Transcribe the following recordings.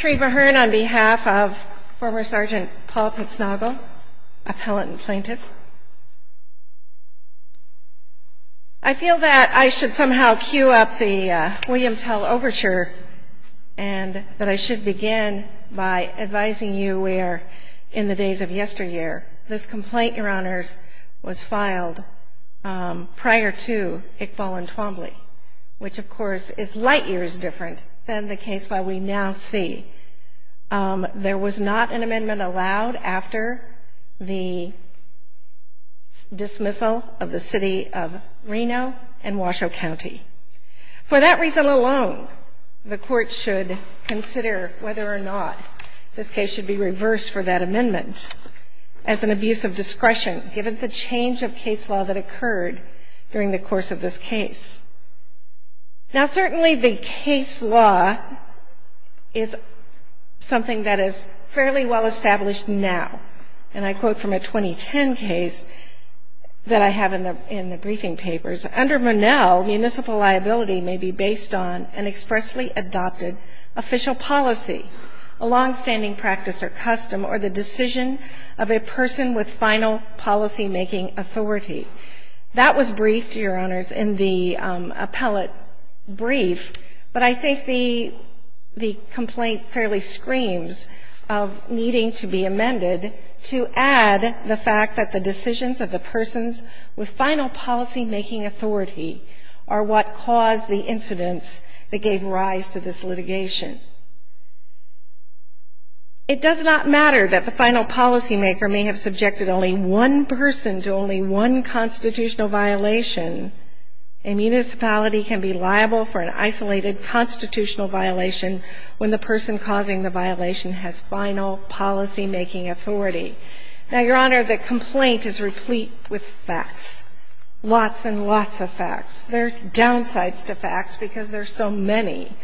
I feel that I should somehow cue up the William Tell overture and that I should begin by advising you where in the days of yesteryear this complaint, your honors, was filed prior to Iqbal and C. There was not an amendment allowed after the dismissal of the City of Reno and Washoe County. For that reason alone, the court should consider whether or not this case should be reversed for that amendment as an abuse of discretion given the change of case law that is something that is fairly well established now. And I quote from a 2010 case that I have in the briefing papers, under Monell, municipal liability may be based on an expressly adopted official policy, a longstanding practice or custom, or the decision of a person with final policymaking authority. That was briefed, your honors, in the appellate brief, but I think the complaint fairly screams of needing to be amended to add the fact that the decisions of the persons with final policymaking authority are what caused the incidents that gave rise to this litigation. It does not matter that the final policymaker may have subjected only one person to only one constitutional violation. A municipality can be liable for an isolated constitutional violation when the person causing the violation has final policymaking authority. Now, your honor, the complaint is replete with facts, lots and lots of facts. There are downsides to facts because there are so many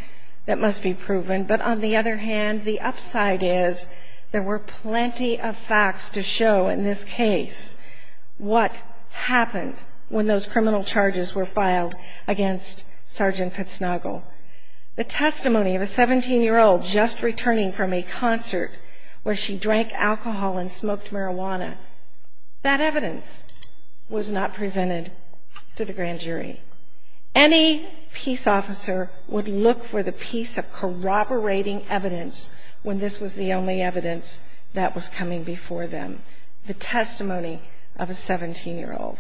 that must be proven. But on the other hand, the upside is there were plenty of facts to show in this case what happened when those criminal charges were filed against Sergeant Kutznagel. The testimony of a 17-year-old just returning from a concert where she drank alcohol and smoked marijuana, that evidence was not presented to the grand jury. Any peace officer would look for the piece of corroborating evidence when this was the only evidence that was coming before them, the testimony of a 17-year-old.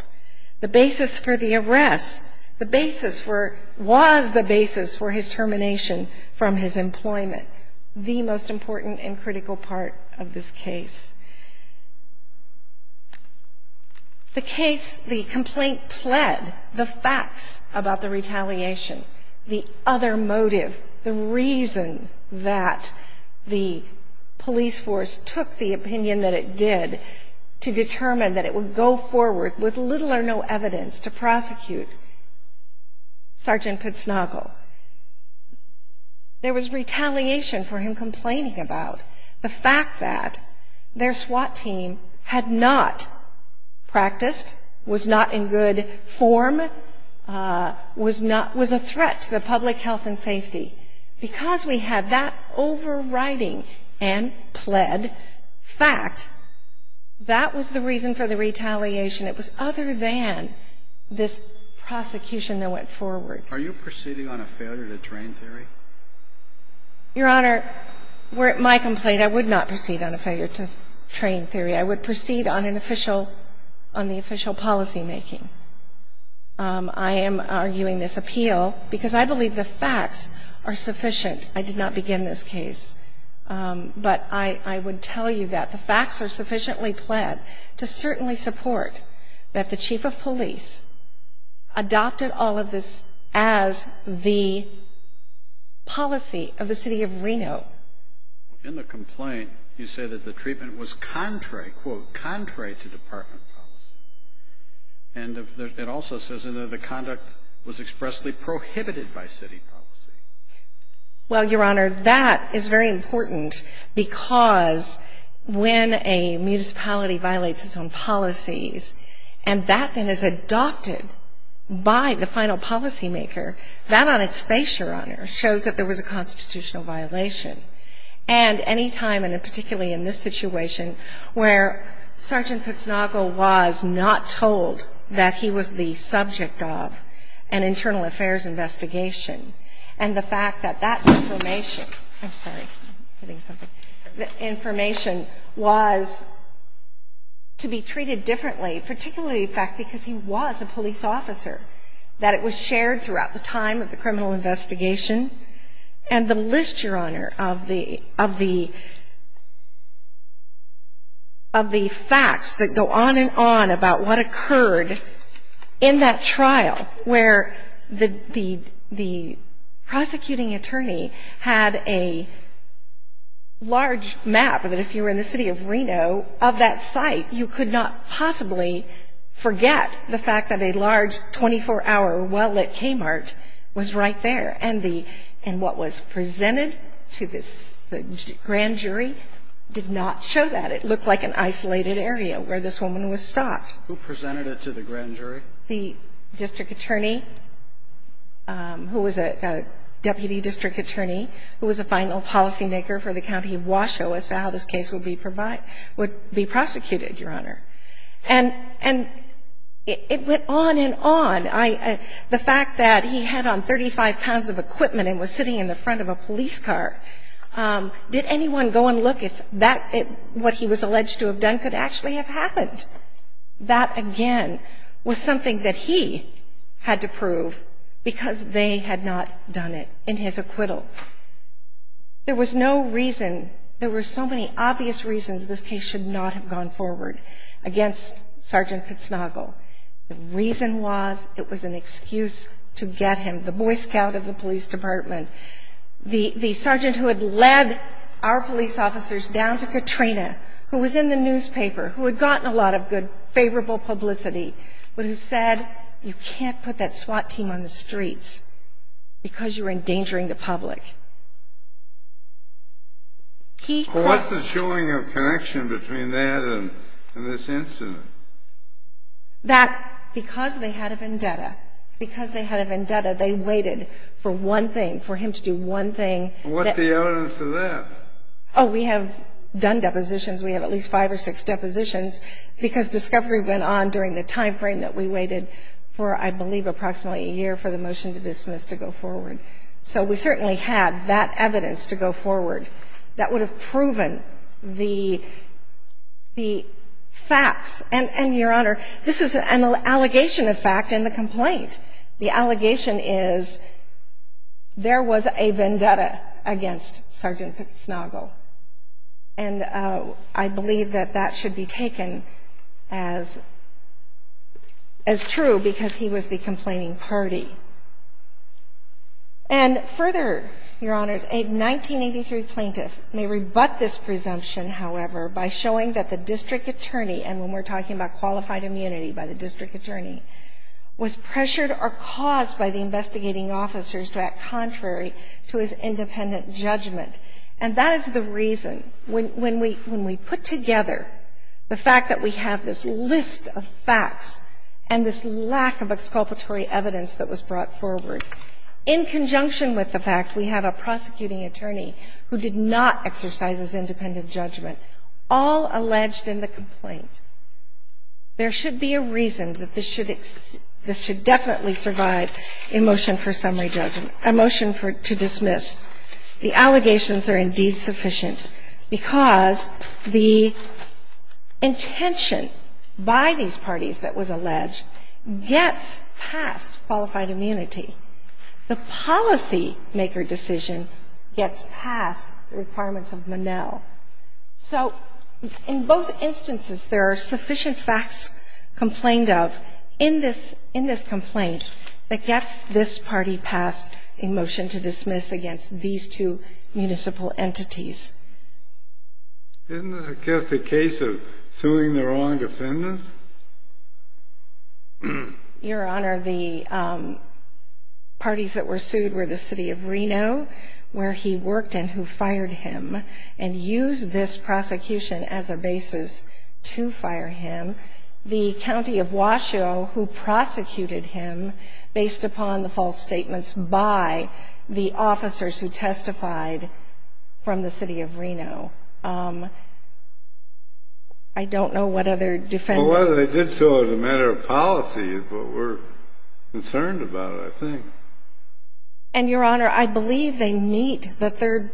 The basis for the arrest, the basis for, was the basis for his termination from his employment, the most important and critical part of this case. The case, the complaint, pled the facts about the retaliation. The other motive, the reason that the police force took the opinion that it did to determine that it would go forward with little or no evidence to prosecute Sergeant Kutznagel, there was retaliation for him complaining about the fact that their SWAT team had not practiced, was not in good form, was a threat to the public health and safety. Because we had that overriding and pled fact, that was the reason for the retaliation. It was other than this prosecution that went forward. Are you proceeding on a failure to train theory? Your Honor, my complaint, I would not proceed on a failure to train theory. I would proceed on an official, on the official policymaking. I am arguing this appeal because I believe the facts are sufficient. I did not begin this case. But I would tell you that the facts are sufficiently pled to certainly support that the chief of police adopted all of this as the policy of the city of Reno. In the complaint, you say that the treatment was contrary, quote, contrary to department policy. And it also says that the conduct was expressly prohibited by city policy. Well, Your Honor, that is very important because when a municipality violates its own policies and that then is adopted by the final policymaker, that on its face, Your Honor, shows that there is a violation of the city's policy. Now, I would argue that there is a violation of the city's policy. And any time, and particularly in this situation, where Sergeant Pitsnagel was not told that he was the subject of an internal affairs investigation, and the fact that that information, I'm sorry, I'm hitting on, of the facts that go on and on about what occurred in that trial where the prosecuting attorney had a large map that if you were in the city of Reno, of that site, you could not possibly forget the fact that a large 24-hour well-lit Kmart was right there. And the, and what was presented to this grand jury did not show that. It looked like an isolated area where this woman was stopped. Who presented it to the grand jury? The district attorney who was a deputy district attorney who was a final policymaker for the county of Washoe as to how this case would be provided, would be prosecuted, Your Honor. And it went on and on. The fact that he had on 35 pounds of equipment and was sitting in the front of a police car, did anyone go and look if that, what he was alleged to have done could actually have happened? That, again, was something that he had to prove because they had not done it in his acquittal. There was no reason, there were so many obvious reasons this case should not have gone forward against Sergeant Pitsnagel. The reason was it was an excuse to get him, the boy scout of the police department, the, the sergeant who had led our police officers down to Katrina, who was in the newspaper, who had gotten a lot of good, favorable publicity, but who said you can't put that SWAT team on the streets because you're endangering the public. What's the showing of connection between that and this incident? That because they had a vendetta, because they had a vendetta, they waited for one thing, for him to do one thing. What's the evidence of that? Oh, we have done depositions. We have at least five or six depositions because discovery went on during the timeframe that we waited for, I believe, approximately a year for the motion to dismiss to go forward. So we certainly had that evidence to go forward that would have proven the, the facts and, and, Your Honor, this is an allegation of fact in the complaint. The allegation is there was a vendetta against Sergeant Pitsnagel. And I believe that that should be taken as, as true because he was the complaining party. And further, Your Honors, a 1983 plaintiff may rebut this presumption, however, by showing that the district attorney, and when we're talking about qualified immunity by the district attorney, was pressured or caused by the investigating officers to act contrary to his independent judgment. And that is the reason when, when we, when we put together the fact that we have this list of facts and this lack of exculpatory evidence that was brought forward in conjunction with the fact we have a prosecuting attorney who did not exercise his independent judgment, all alleged in the complaint, there should be a reason that this should, this should definitely survive a motion for summary judgment, a motion for, to dismiss. The allegations are indeed sufficient because the intention by these parties that was alleged gets past qualified immunity. The policymaker decision gets past the requirements of Monell. So in both instances, there are sufficient facts complained of in this, in this complaint that gets this party past a motion to dismiss against these two municipal entities. Isn't this just a case of suing the wrong defendants? Your Honor, the parties that were sued were the city of Reno, where he worked and who fired him, and used this prosecution as a basis to fire him. The county of Washoe who prosecuted him based upon the false statements by the officers who testified from the city of Reno. I don't know what other defendants. Well, whether they did so as a matter of policy is what we're concerned about, I think. And, Your Honor, I believe they meet the third,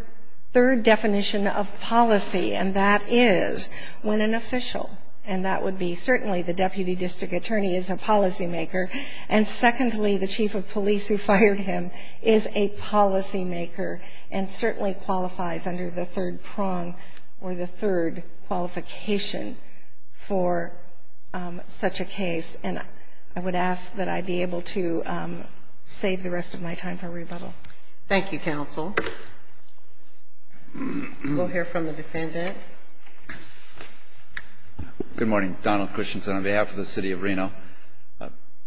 third definition of policy, and that is when an official, and that would be certainly the deputy district attorney is a policymaker, and secondly, the chief of police who fired him is a policymaker and certainly qualifies under the third prong or the third qualification for such a case. And I would ask that I be able to save the rest of my time for rebuttal. Thank you, counsel. We'll hear from the defendants. Good morning. Donald Christensen on behalf of the city of Reno.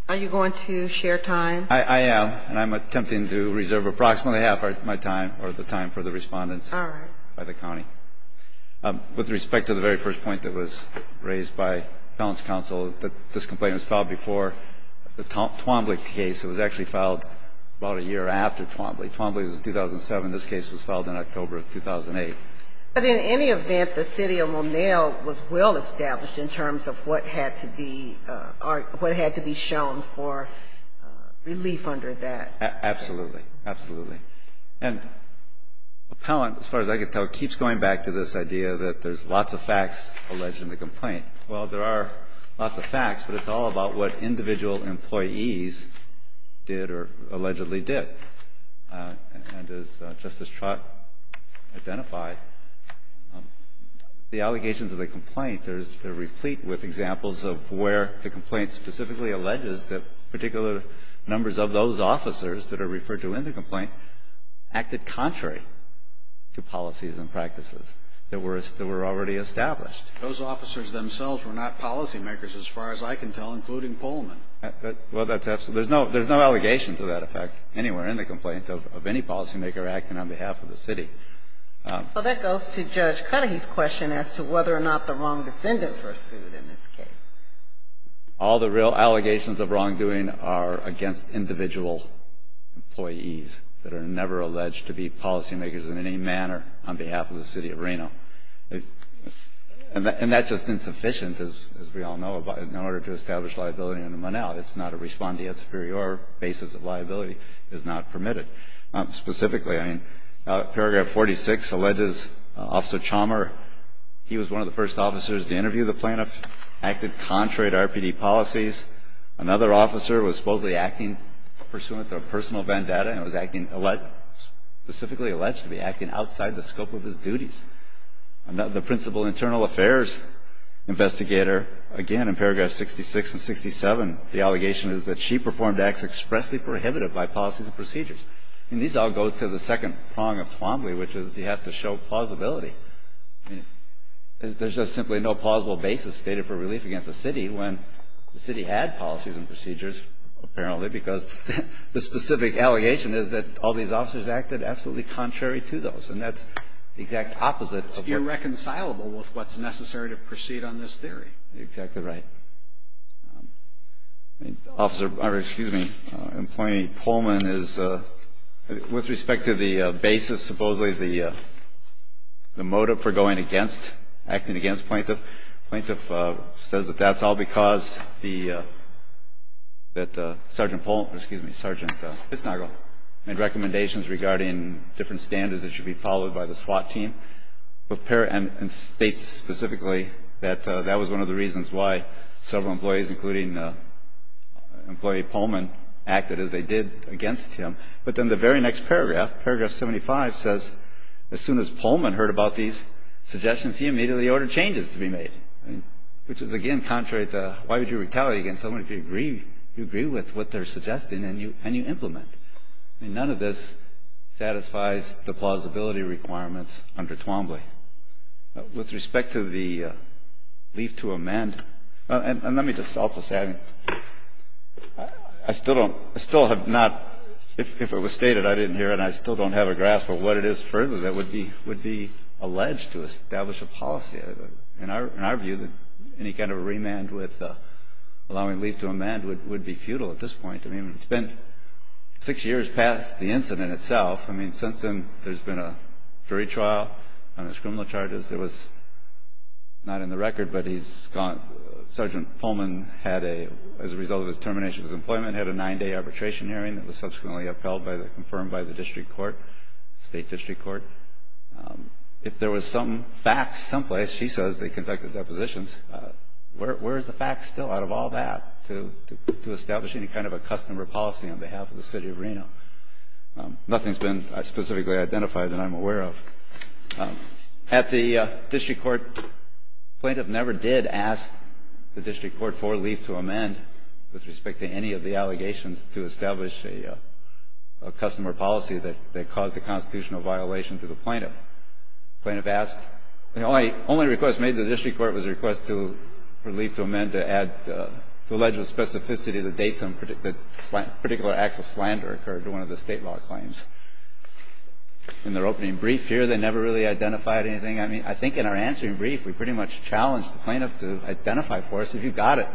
Are you going to share time? I am, and I'm attempting to reserve approximately half of my time or the time for the respondents. All right. By the county. With respect to the very first point that was raised by the appellant's counsel, this complaint was filed before the Twombly case. It was actually filed about a year after Twombly. Twombly was in 2007. This case was filed in October of 2008. But in any event, the city of Monell was well established in terms of what had to be shown for relief under that. Absolutely. Absolutely. And the appellant, as far as I can tell, keeps going back to this idea that there's lots of facts alleged in the complaint. Well, there are lots of facts, but it's all about what individual employees did or allegedly did. And as Justice Trott identified, the allegations of the complaint, they're replete with examples of where the complaint specifically alleges that particular numbers of those officers that are referred to in the complaint acted contrary to policies and practices that were already established. Those officers themselves were not policymakers, as far as I can tell, including poll men. Well, that's absolutely. There's no allegation to that effect anywhere in the complaint of any policymaker acting on behalf of the city. Well, that goes to Judge Cudahy's question as to whether or not the wrong defendants were sued in this case. All the real allegations of wrongdoing are against individual employees that are never alleged to be policymakers in any manner on behalf of the city of Reno. And that's just insufficient, as we all know, in order to establish liability under Monell. It's not a respondeat superior. Basis of liability is not permitted. Specifically, I mean, Paragraph 46 alleges Officer Chalmer, he was one of the first officers to interview the plaintiff, acted contrary to RPD policies. Another officer was supposedly acting pursuant to a personal vendetta and was acting specifically alleged to be acting outside the scope of his duties. The principal internal affairs investigator, again, in Paragraph 66 and 67, the allegation is that she performed acts expressly prohibited by policies and procedures. And these all go to the second prong of Twombly, which is you have to show plausibility. I mean, there's just simply no plausible basis stated for relief against a city when the city had policies and procedures, apparently, because the specific allegation is that all these officers acted absolutely contrary to those. And that's the exact opposite of what you're saying. It's irreconcilable with what's necessary to proceed on this theory. Exactly right. Officer, excuse me, Employee Pullman is, with respect to the basis, supposedly the motive for going against, acting against the plaintiff, the plaintiff says that that's all because the, that Sergeant Pullman, excuse me, Sergeant Bissnagel made recommendations regarding different standards that should be followed by the SWAT team. And states specifically that that was one of the reasons why several employees, including Employee Pullman, acted as they did against him. But then the very next paragraph, Paragraph 75, says as soon as Pullman heard about these suggestions, he immediately ordered changes to be made, which is, again, contrary to why would you retaliate against someone if you agree with what they're suggesting and you implement? I mean, none of this satisfies the plausibility requirements under Twombly. With respect to the leave to amend, and let me just also say, I still don't, I still have not, if it was stated, I didn't hear it, and I still don't have a grasp of what it is further that would be alleged to establish a policy. In our view, any kind of remand with allowing leave to amend would be futile at this point. I mean, it's been six years past the incident itself. I mean, since then, there's been a jury trial on his criminal charges. There was not in the record, but he's gone. Sergeant Pullman had a, as a result of his termination of his employment, had a nine-day arbitration hearing that was subsequently upheld by the, confirmed by the district court, state district court. If there was some facts someplace, he says they conducted depositions, where's the facts still out of all that to establish any kind of a customer policy on behalf of the city of Reno? Nothing's been specifically identified that I'm aware of. At the district court, plaintiff never did ask the district court for leave to amend with respect to any of the allegations to establish a customer policy that caused a constitutional violation to the plaintiff. The plaintiff asked, the only request made to the district court was a request for leave to amend to add, to allege a specificity that dates on particular acts of slander occurred to one of the state law claims. In their opening brief here, they never really identified anything. I mean, I think in our answering brief, we pretty much challenged the plaintiff to identify for us if you got it.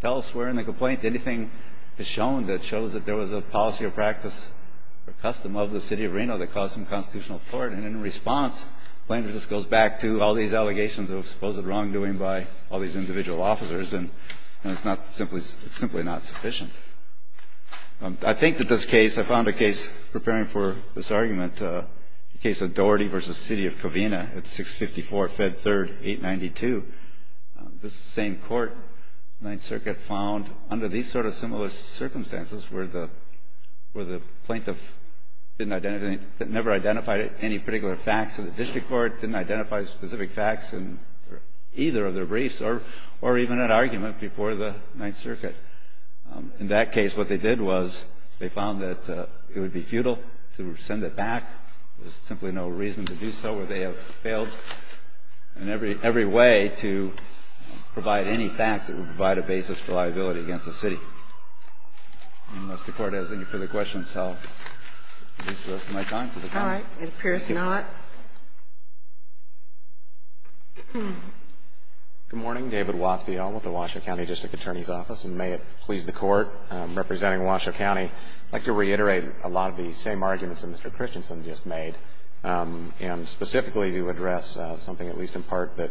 Tell us where in the complaint anything is shown that shows that there was a policy or practice or custom of the city of Reno that caused some constitutional violation to the plaintiff. And in response, the plaintiff just goes back to all these allegations of supposed wrongdoing by all these individual officers, and it's not simply, it's simply not sufficient. I think that this case, I found a case preparing for this argument, the case of Daugherty v. City of Covina at 654 Fed 3rd, 892. This same court, Ninth Circuit, found under these sort of similar circumstances where the plaintiff didn't identify, never identified any particular facts in the district court, didn't identify specific facts in either of their briefs or even at argument before the Ninth Circuit. In that case, what they did was they found that it would be futile to send it back. There's simply no reason to do so. They have failed in every way to provide any facts that would provide a basis for liability against the city. Unless the Court has any further questions, I'll at least list my time to the Court. All right. It appears not. Good morning. David Watsby, Elmwood, the Washoe County District Attorney's Office, and may it please the Court. Representing Washoe County, I'd like to reiterate a lot of the same arguments that Mr. Christensen just made, and specifically to address something at least in part that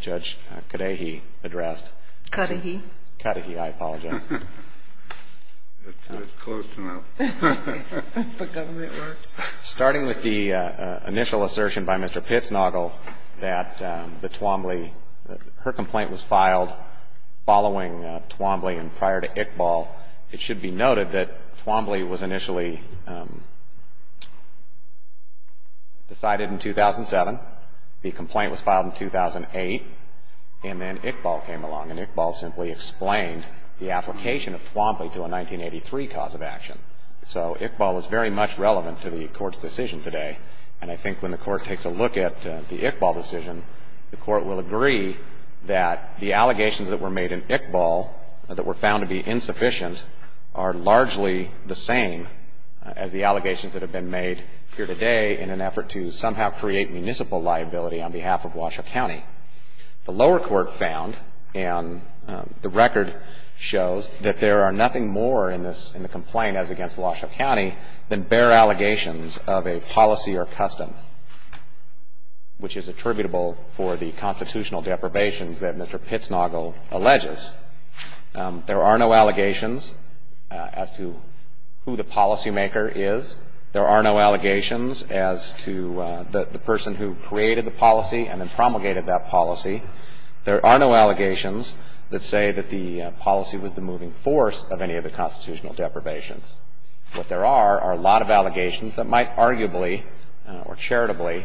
Judge Kadehi addressed. Kadehi. Kadehi. Kadehi, I apologize. That's close enough. But government work. Starting with the initial assertion by Mr. Pitsnoggle that the Twombly, her complaint was filed following Twombly and prior to Iqbal. It should be noted that Twombly was initially decided in 2007. The complaint was filed in 2008. And then Iqbal came along, and Iqbal simply explained the application of Twombly to a 1983 cause of action. So Iqbal is very much relevant to the Court's decision today. And I think when the Court takes a look at the Iqbal decision, the Court will agree that the allegations that were made in Iqbal that were found to be insufficient are largely the same as the allegations that have been made here today in an effort to somehow create municipal liability on behalf of Washoe County. The lower court found, and the record shows, that there are nothing more in the complaint as against Washoe County than bare allegations of a policy or custom, which is attributable for the constitutional deprivations that Mr. Pitsnoggle alleges. There are no allegations as to who the policymaker is. There are no allegations as to the person who created the policy and then promulgated that policy. There are no allegations that say that the policy was the moving force of any of the constitutional deprivations. What there are are a lot of allegations that might arguably or charitably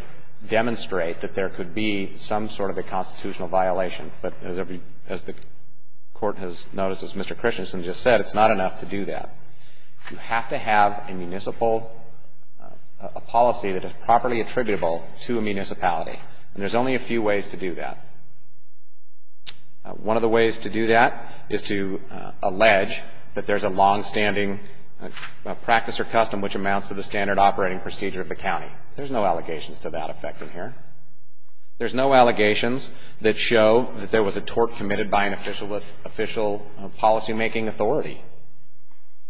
demonstrate that there could be some sort of a constitutional violation. But as the Court has noticed, as Mr. Christensen just said, it's not enough to do that. You have to have a municipal policy that is properly attributable to a municipality. And there's only a few ways to do that. One of the ways to do that is to allege that there's a longstanding practice or custom which amounts to the standard operating procedure of the county. There's no allegations to that effect in here. There's no allegations that show that there was a tort committed by an official policymaking authority.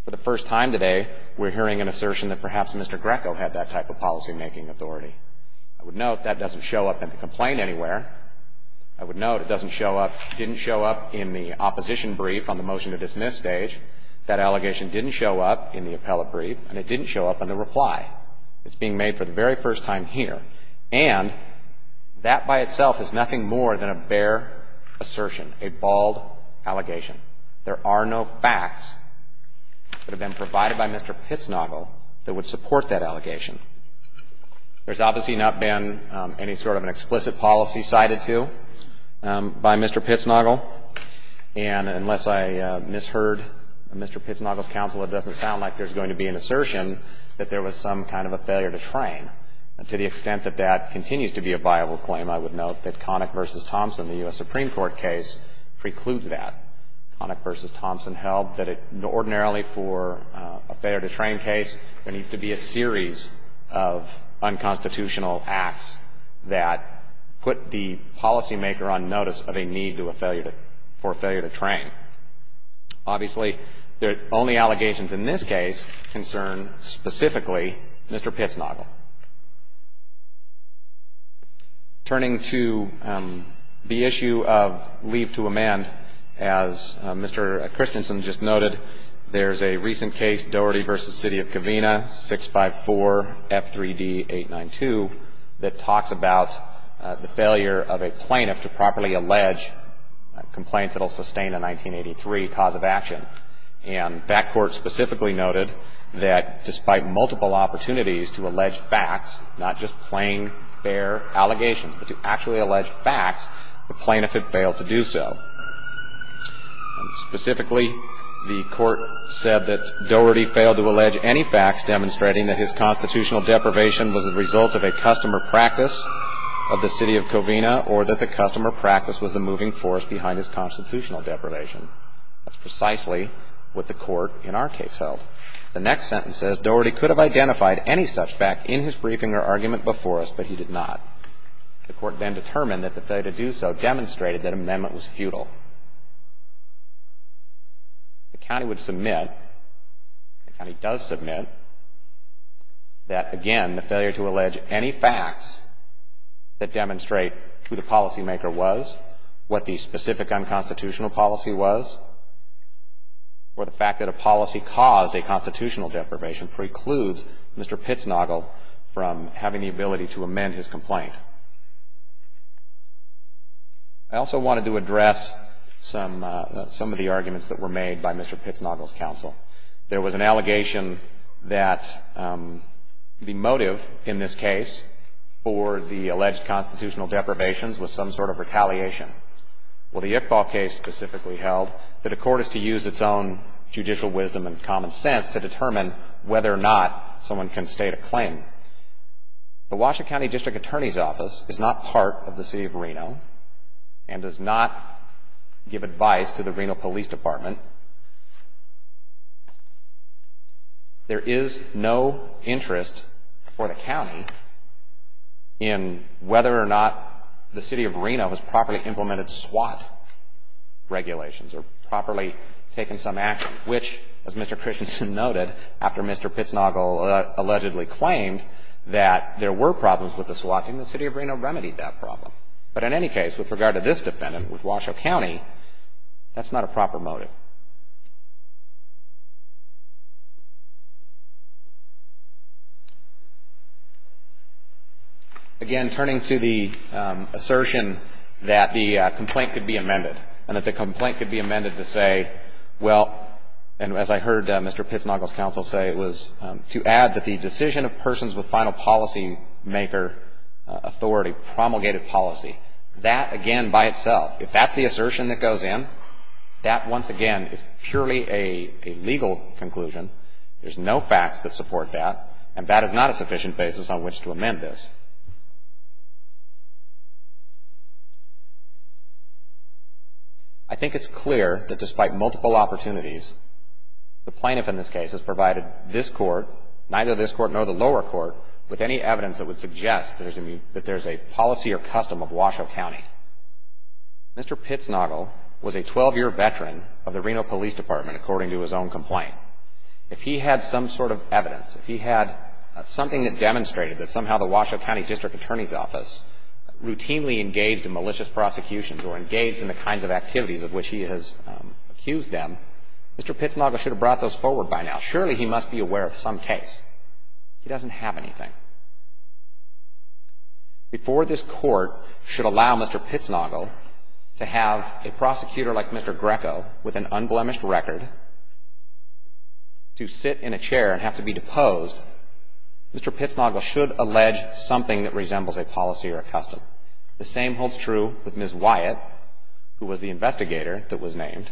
For the first time today, we're hearing an assertion that perhaps Mr. Greco had that type of policymaking authority. I would note that doesn't show up in the complaint anywhere. I would note it doesn't show up, didn't show up in the opposition brief on the motion to dismiss stage. That allegation didn't show up in the appellate brief and it didn't show up in the reply. It's being made for the very first time here. And that by itself is nothing more than a bare assertion, a bald allegation. There are no facts that have been provided by Mr. Pitsnoggle that would support that allegation. There's obviously not been any sort of an explicit policy cited to by Mr. Pitsnoggle. And unless I misheard Mr. Pitsnoggle's counsel, it doesn't sound like there's going to be an assertion that there was some kind of a failure to train. And to the extent that that continues to be a viable claim, I would note that Connick v. Thompson, the U.S. Supreme Court case, precludes that. Connick v. Thompson held that it ordinarily for a failure to train case, there needs to be a series of unconstitutional acts that put the policymaker on notice of a need for a failure to train. Obviously, the only allegations in this case concern specifically Mr. Pitsnoggle. Turning to the issue of leave to amend, as Mr. Christensen just noted, there's a recent case, Doherty v. City of Covina, 654F3D892, that talks about the failure of a plaintiff to properly allege complaints that will sustain a 1983 cause of action. And that court specifically noted that despite multiple opportunities to allege facts, not just plain, fair allegations, but to actually allege facts, the plaintiff had failed to do so. Specifically, the court said that Doherty failed to allege any facts demonstrating that his constitutional deprivation was a result of a customer practice of the City of Covina or that the customer practice was the moving force behind his constitutional deprivation. That's precisely what the court in our case held. The next sentence says, Doherty could have identified any such fact in his briefing or argument before us, but he did not. The court then determined that the failure to do so demonstrated that amendment was futile. The county would submit, the county does submit, that again, the failure to allege any facts that demonstrate who the policymaker was, what the specific unconstitutional policy was, or the fact that a policy caused a constitutional deprivation precludes Mr. Pitznagel from having the ability to amend his complaint. I also wanted to address some of the arguments that were made by Mr. Pitznagel's counsel. There was an allegation that the motive in this case for the alleged constitutional deprivations was some sort of retaliation. Well, the Iqbal case specifically held that a court is to use its own judicial wisdom and common sense to determine whether or not someone can state a claim. The Washington County District Attorney's Office is not part of the City of Reno and does not give advice to the Reno Police Department. There is no interest for the county in whether or not the City of Reno has properly implemented SWAT regulations or properly taken some action, which, as Mr. Christensen noted after Mr. Pitznagel allegedly claimed that there were problems with the SWAT and the City of Reno remedied that problem. But in any case, with regard to this defendant with Washoe County, that's not a proper motive. So, again, turning to the assertion that the complaint could be amended and that the complaint could be amended to say, well, and as I heard Mr. Pitznagel's counsel say, was to add that the decision of persons with final policymaker authority promulgated policy. That, again, by itself, if that's the assertion that goes in, that once again is purely a legal conclusion. There's no facts that support that, and that is not a sufficient basis on which to amend this. I think it's clear that despite multiple opportunities, the plaintiff in this case has provided this court, neither this court nor the lower court, with any evidence that would suggest that there's a policy or custom of Washoe County. Mr. Pitznagel was a 12-year veteran of the Reno Police Department, according to his own complaint. If he had some sort of evidence, if he had something that demonstrated that somehow the Washoe County District Attorney's Office routinely engaged in malicious prosecutions or engaged in the kinds of activities of which he has accused them, Mr. Pitznagel should have brought those forward by now. Surely he must be aware of some case. He doesn't have anything. Before this court should allow Mr. Pitznagel to have a prosecutor like Mr. Greco with an unblemished record to sit in a chair and have to be deposed, Mr. Pitznagel should allege something that resembles a policy or a custom. The same holds true with Ms. Wyatt, who was the investigator that was named,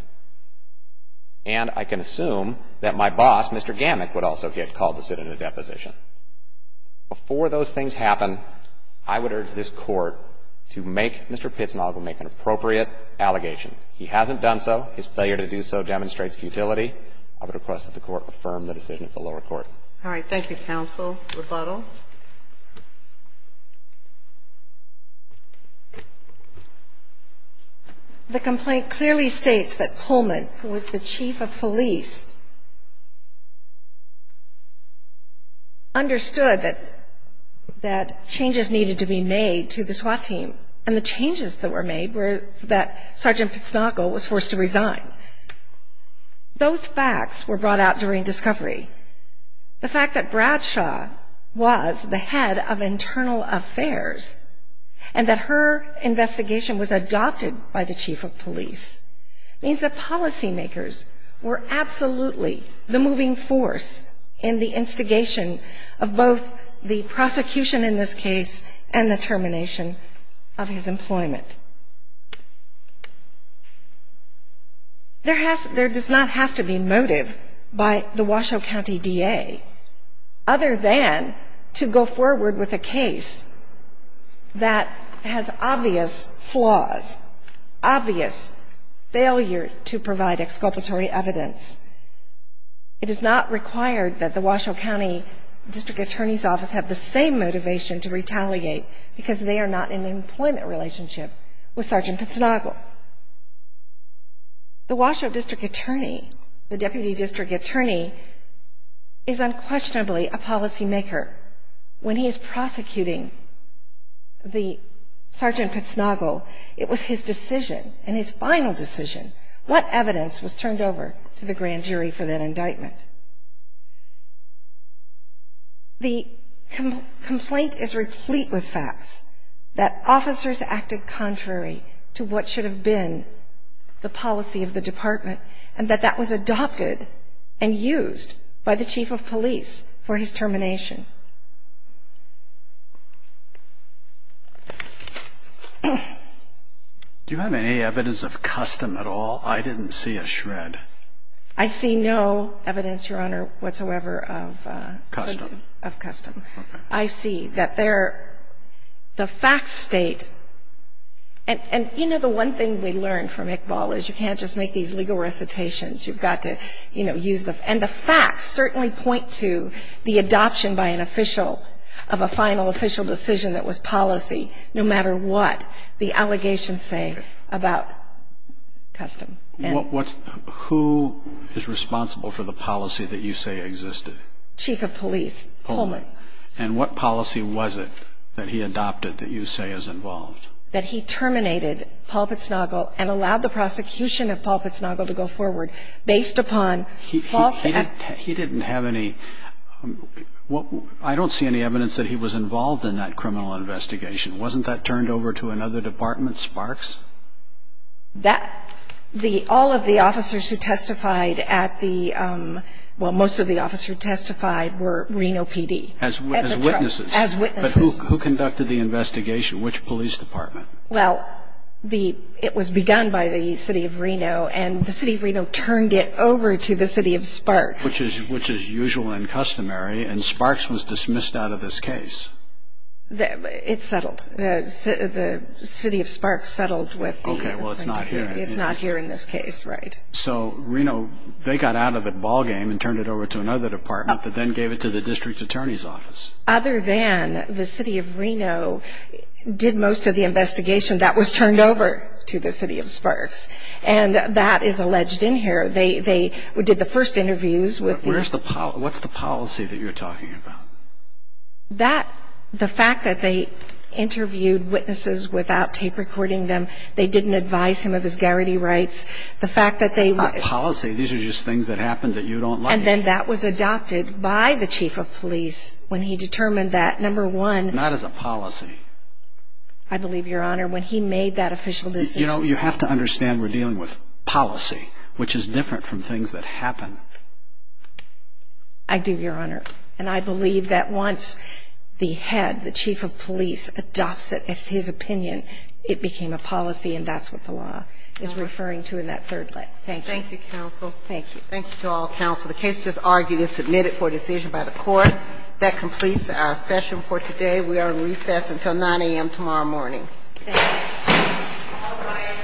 and I can assume that my boss, Mr. Gamick, would also get called to sit in a deposition. Before those things happen, I would urge this Court to make Mr. Pitznagel make an appropriate allegation. He hasn't done so. His failure to do so demonstrates futility. I would request that the Court affirm the decision of the lower court. All right. Thank you, counsel. Rebuttal. The complaint clearly states that Pullman, who was the chief of police, understood that changes needed to be made to the SWAT team, and the changes that were made were that Sergeant Pitznagel was forced to resign. Those facts were brought out during discovery. The fact that Bradshaw was the head of internal affairs and that her investigation was adopted by the chief of police, means that policymakers were absolutely the moving force in the instigation of both the prosecution in this case and the termination of his employment. There does not have to be motive by the Washoe County DA, other than to go forward with a case that has obvious flaws, obvious failure to provide exculpatory evidence. It is not required that the Washoe County District Attorney's Office have the same motivation to retaliate because they are not in an employment relationship with Sergeant Pitznagel. The Washoe District Attorney, the Deputy District Attorney, is unquestionably a policymaker. When he is prosecuting Sergeant Pitznagel, it was his decision, and his final decision, what evidence was turned over to the grand jury for that indictment. The complaint is replete with facts that officers acted contrary to what should have been the policy of the department and that that was adopted and used by the chief of police for his termination. Do you have any evidence of custom at all? I didn't see a shred. I see no evidence, Your Honor, whatsoever of custom. Okay. I see that the facts state, and you know the one thing we learned from Iqbal is you can't just make these legal recitations. You've got to, you know, use the facts. And the facts certainly point to the adoption by an official of a final official decision that was policy, no matter what the allegations say about custom. Who is responsible for the policy that you say existed? Chief of police, Pullman. And what policy was it that he adopted that you say is involved? That he terminated Paul Pitznagel and allowed the prosecution of Paul Pitznagel to go forward based upon false facts. He didn't have any – I don't see any evidence that he was involved in that criminal investigation. Wasn't that turned over to another department, Sparks? That – all of the officers who testified at the – well, most of the officers who testified were Reno PD. As witnesses. As witnesses. But who conducted the investigation? Which police department? Well, the – it was begun by the city of Reno, and the city of Reno turned it over to the city of Sparks. Which is usual and customary, and Sparks was dismissed out of this case. It settled. The city of Sparks settled with the – Okay, well, it's not here. It's not here in this case, right. So Reno – they got out of it ballgame and turned it over to another department that then gave it to the district attorney's office. Other than the city of Reno did most of the investigation, that was turned over to the city of Sparks. And that is alleged in here. They did the first interviews with the – Where's the – what's the policy that you're talking about? That – the fact that they interviewed witnesses without tape recording them, they didn't advise him of his garrity rights, the fact that they – It's not policy. These are just things that happened that you don't like. And then that was adopted by the chief of police when he determined that, number one – Not as a policy. I believe, Your Honor, when he made that official decision – You know, you have to understand we're dealing with policy, which is different from things that happen. I do, Your Honor. And I believe that once the head, the chief of police adopts it as his opinion, it became a policy, and that's what the law is referring to in that third leg. Thank you. Thank you, counsel. Thank you. Thank you to all counsel. The case just argued is submitted for decision by the court. That completes our session for today. We are in recess until 9 a.m. tomorrow morning. Thank you. All rise.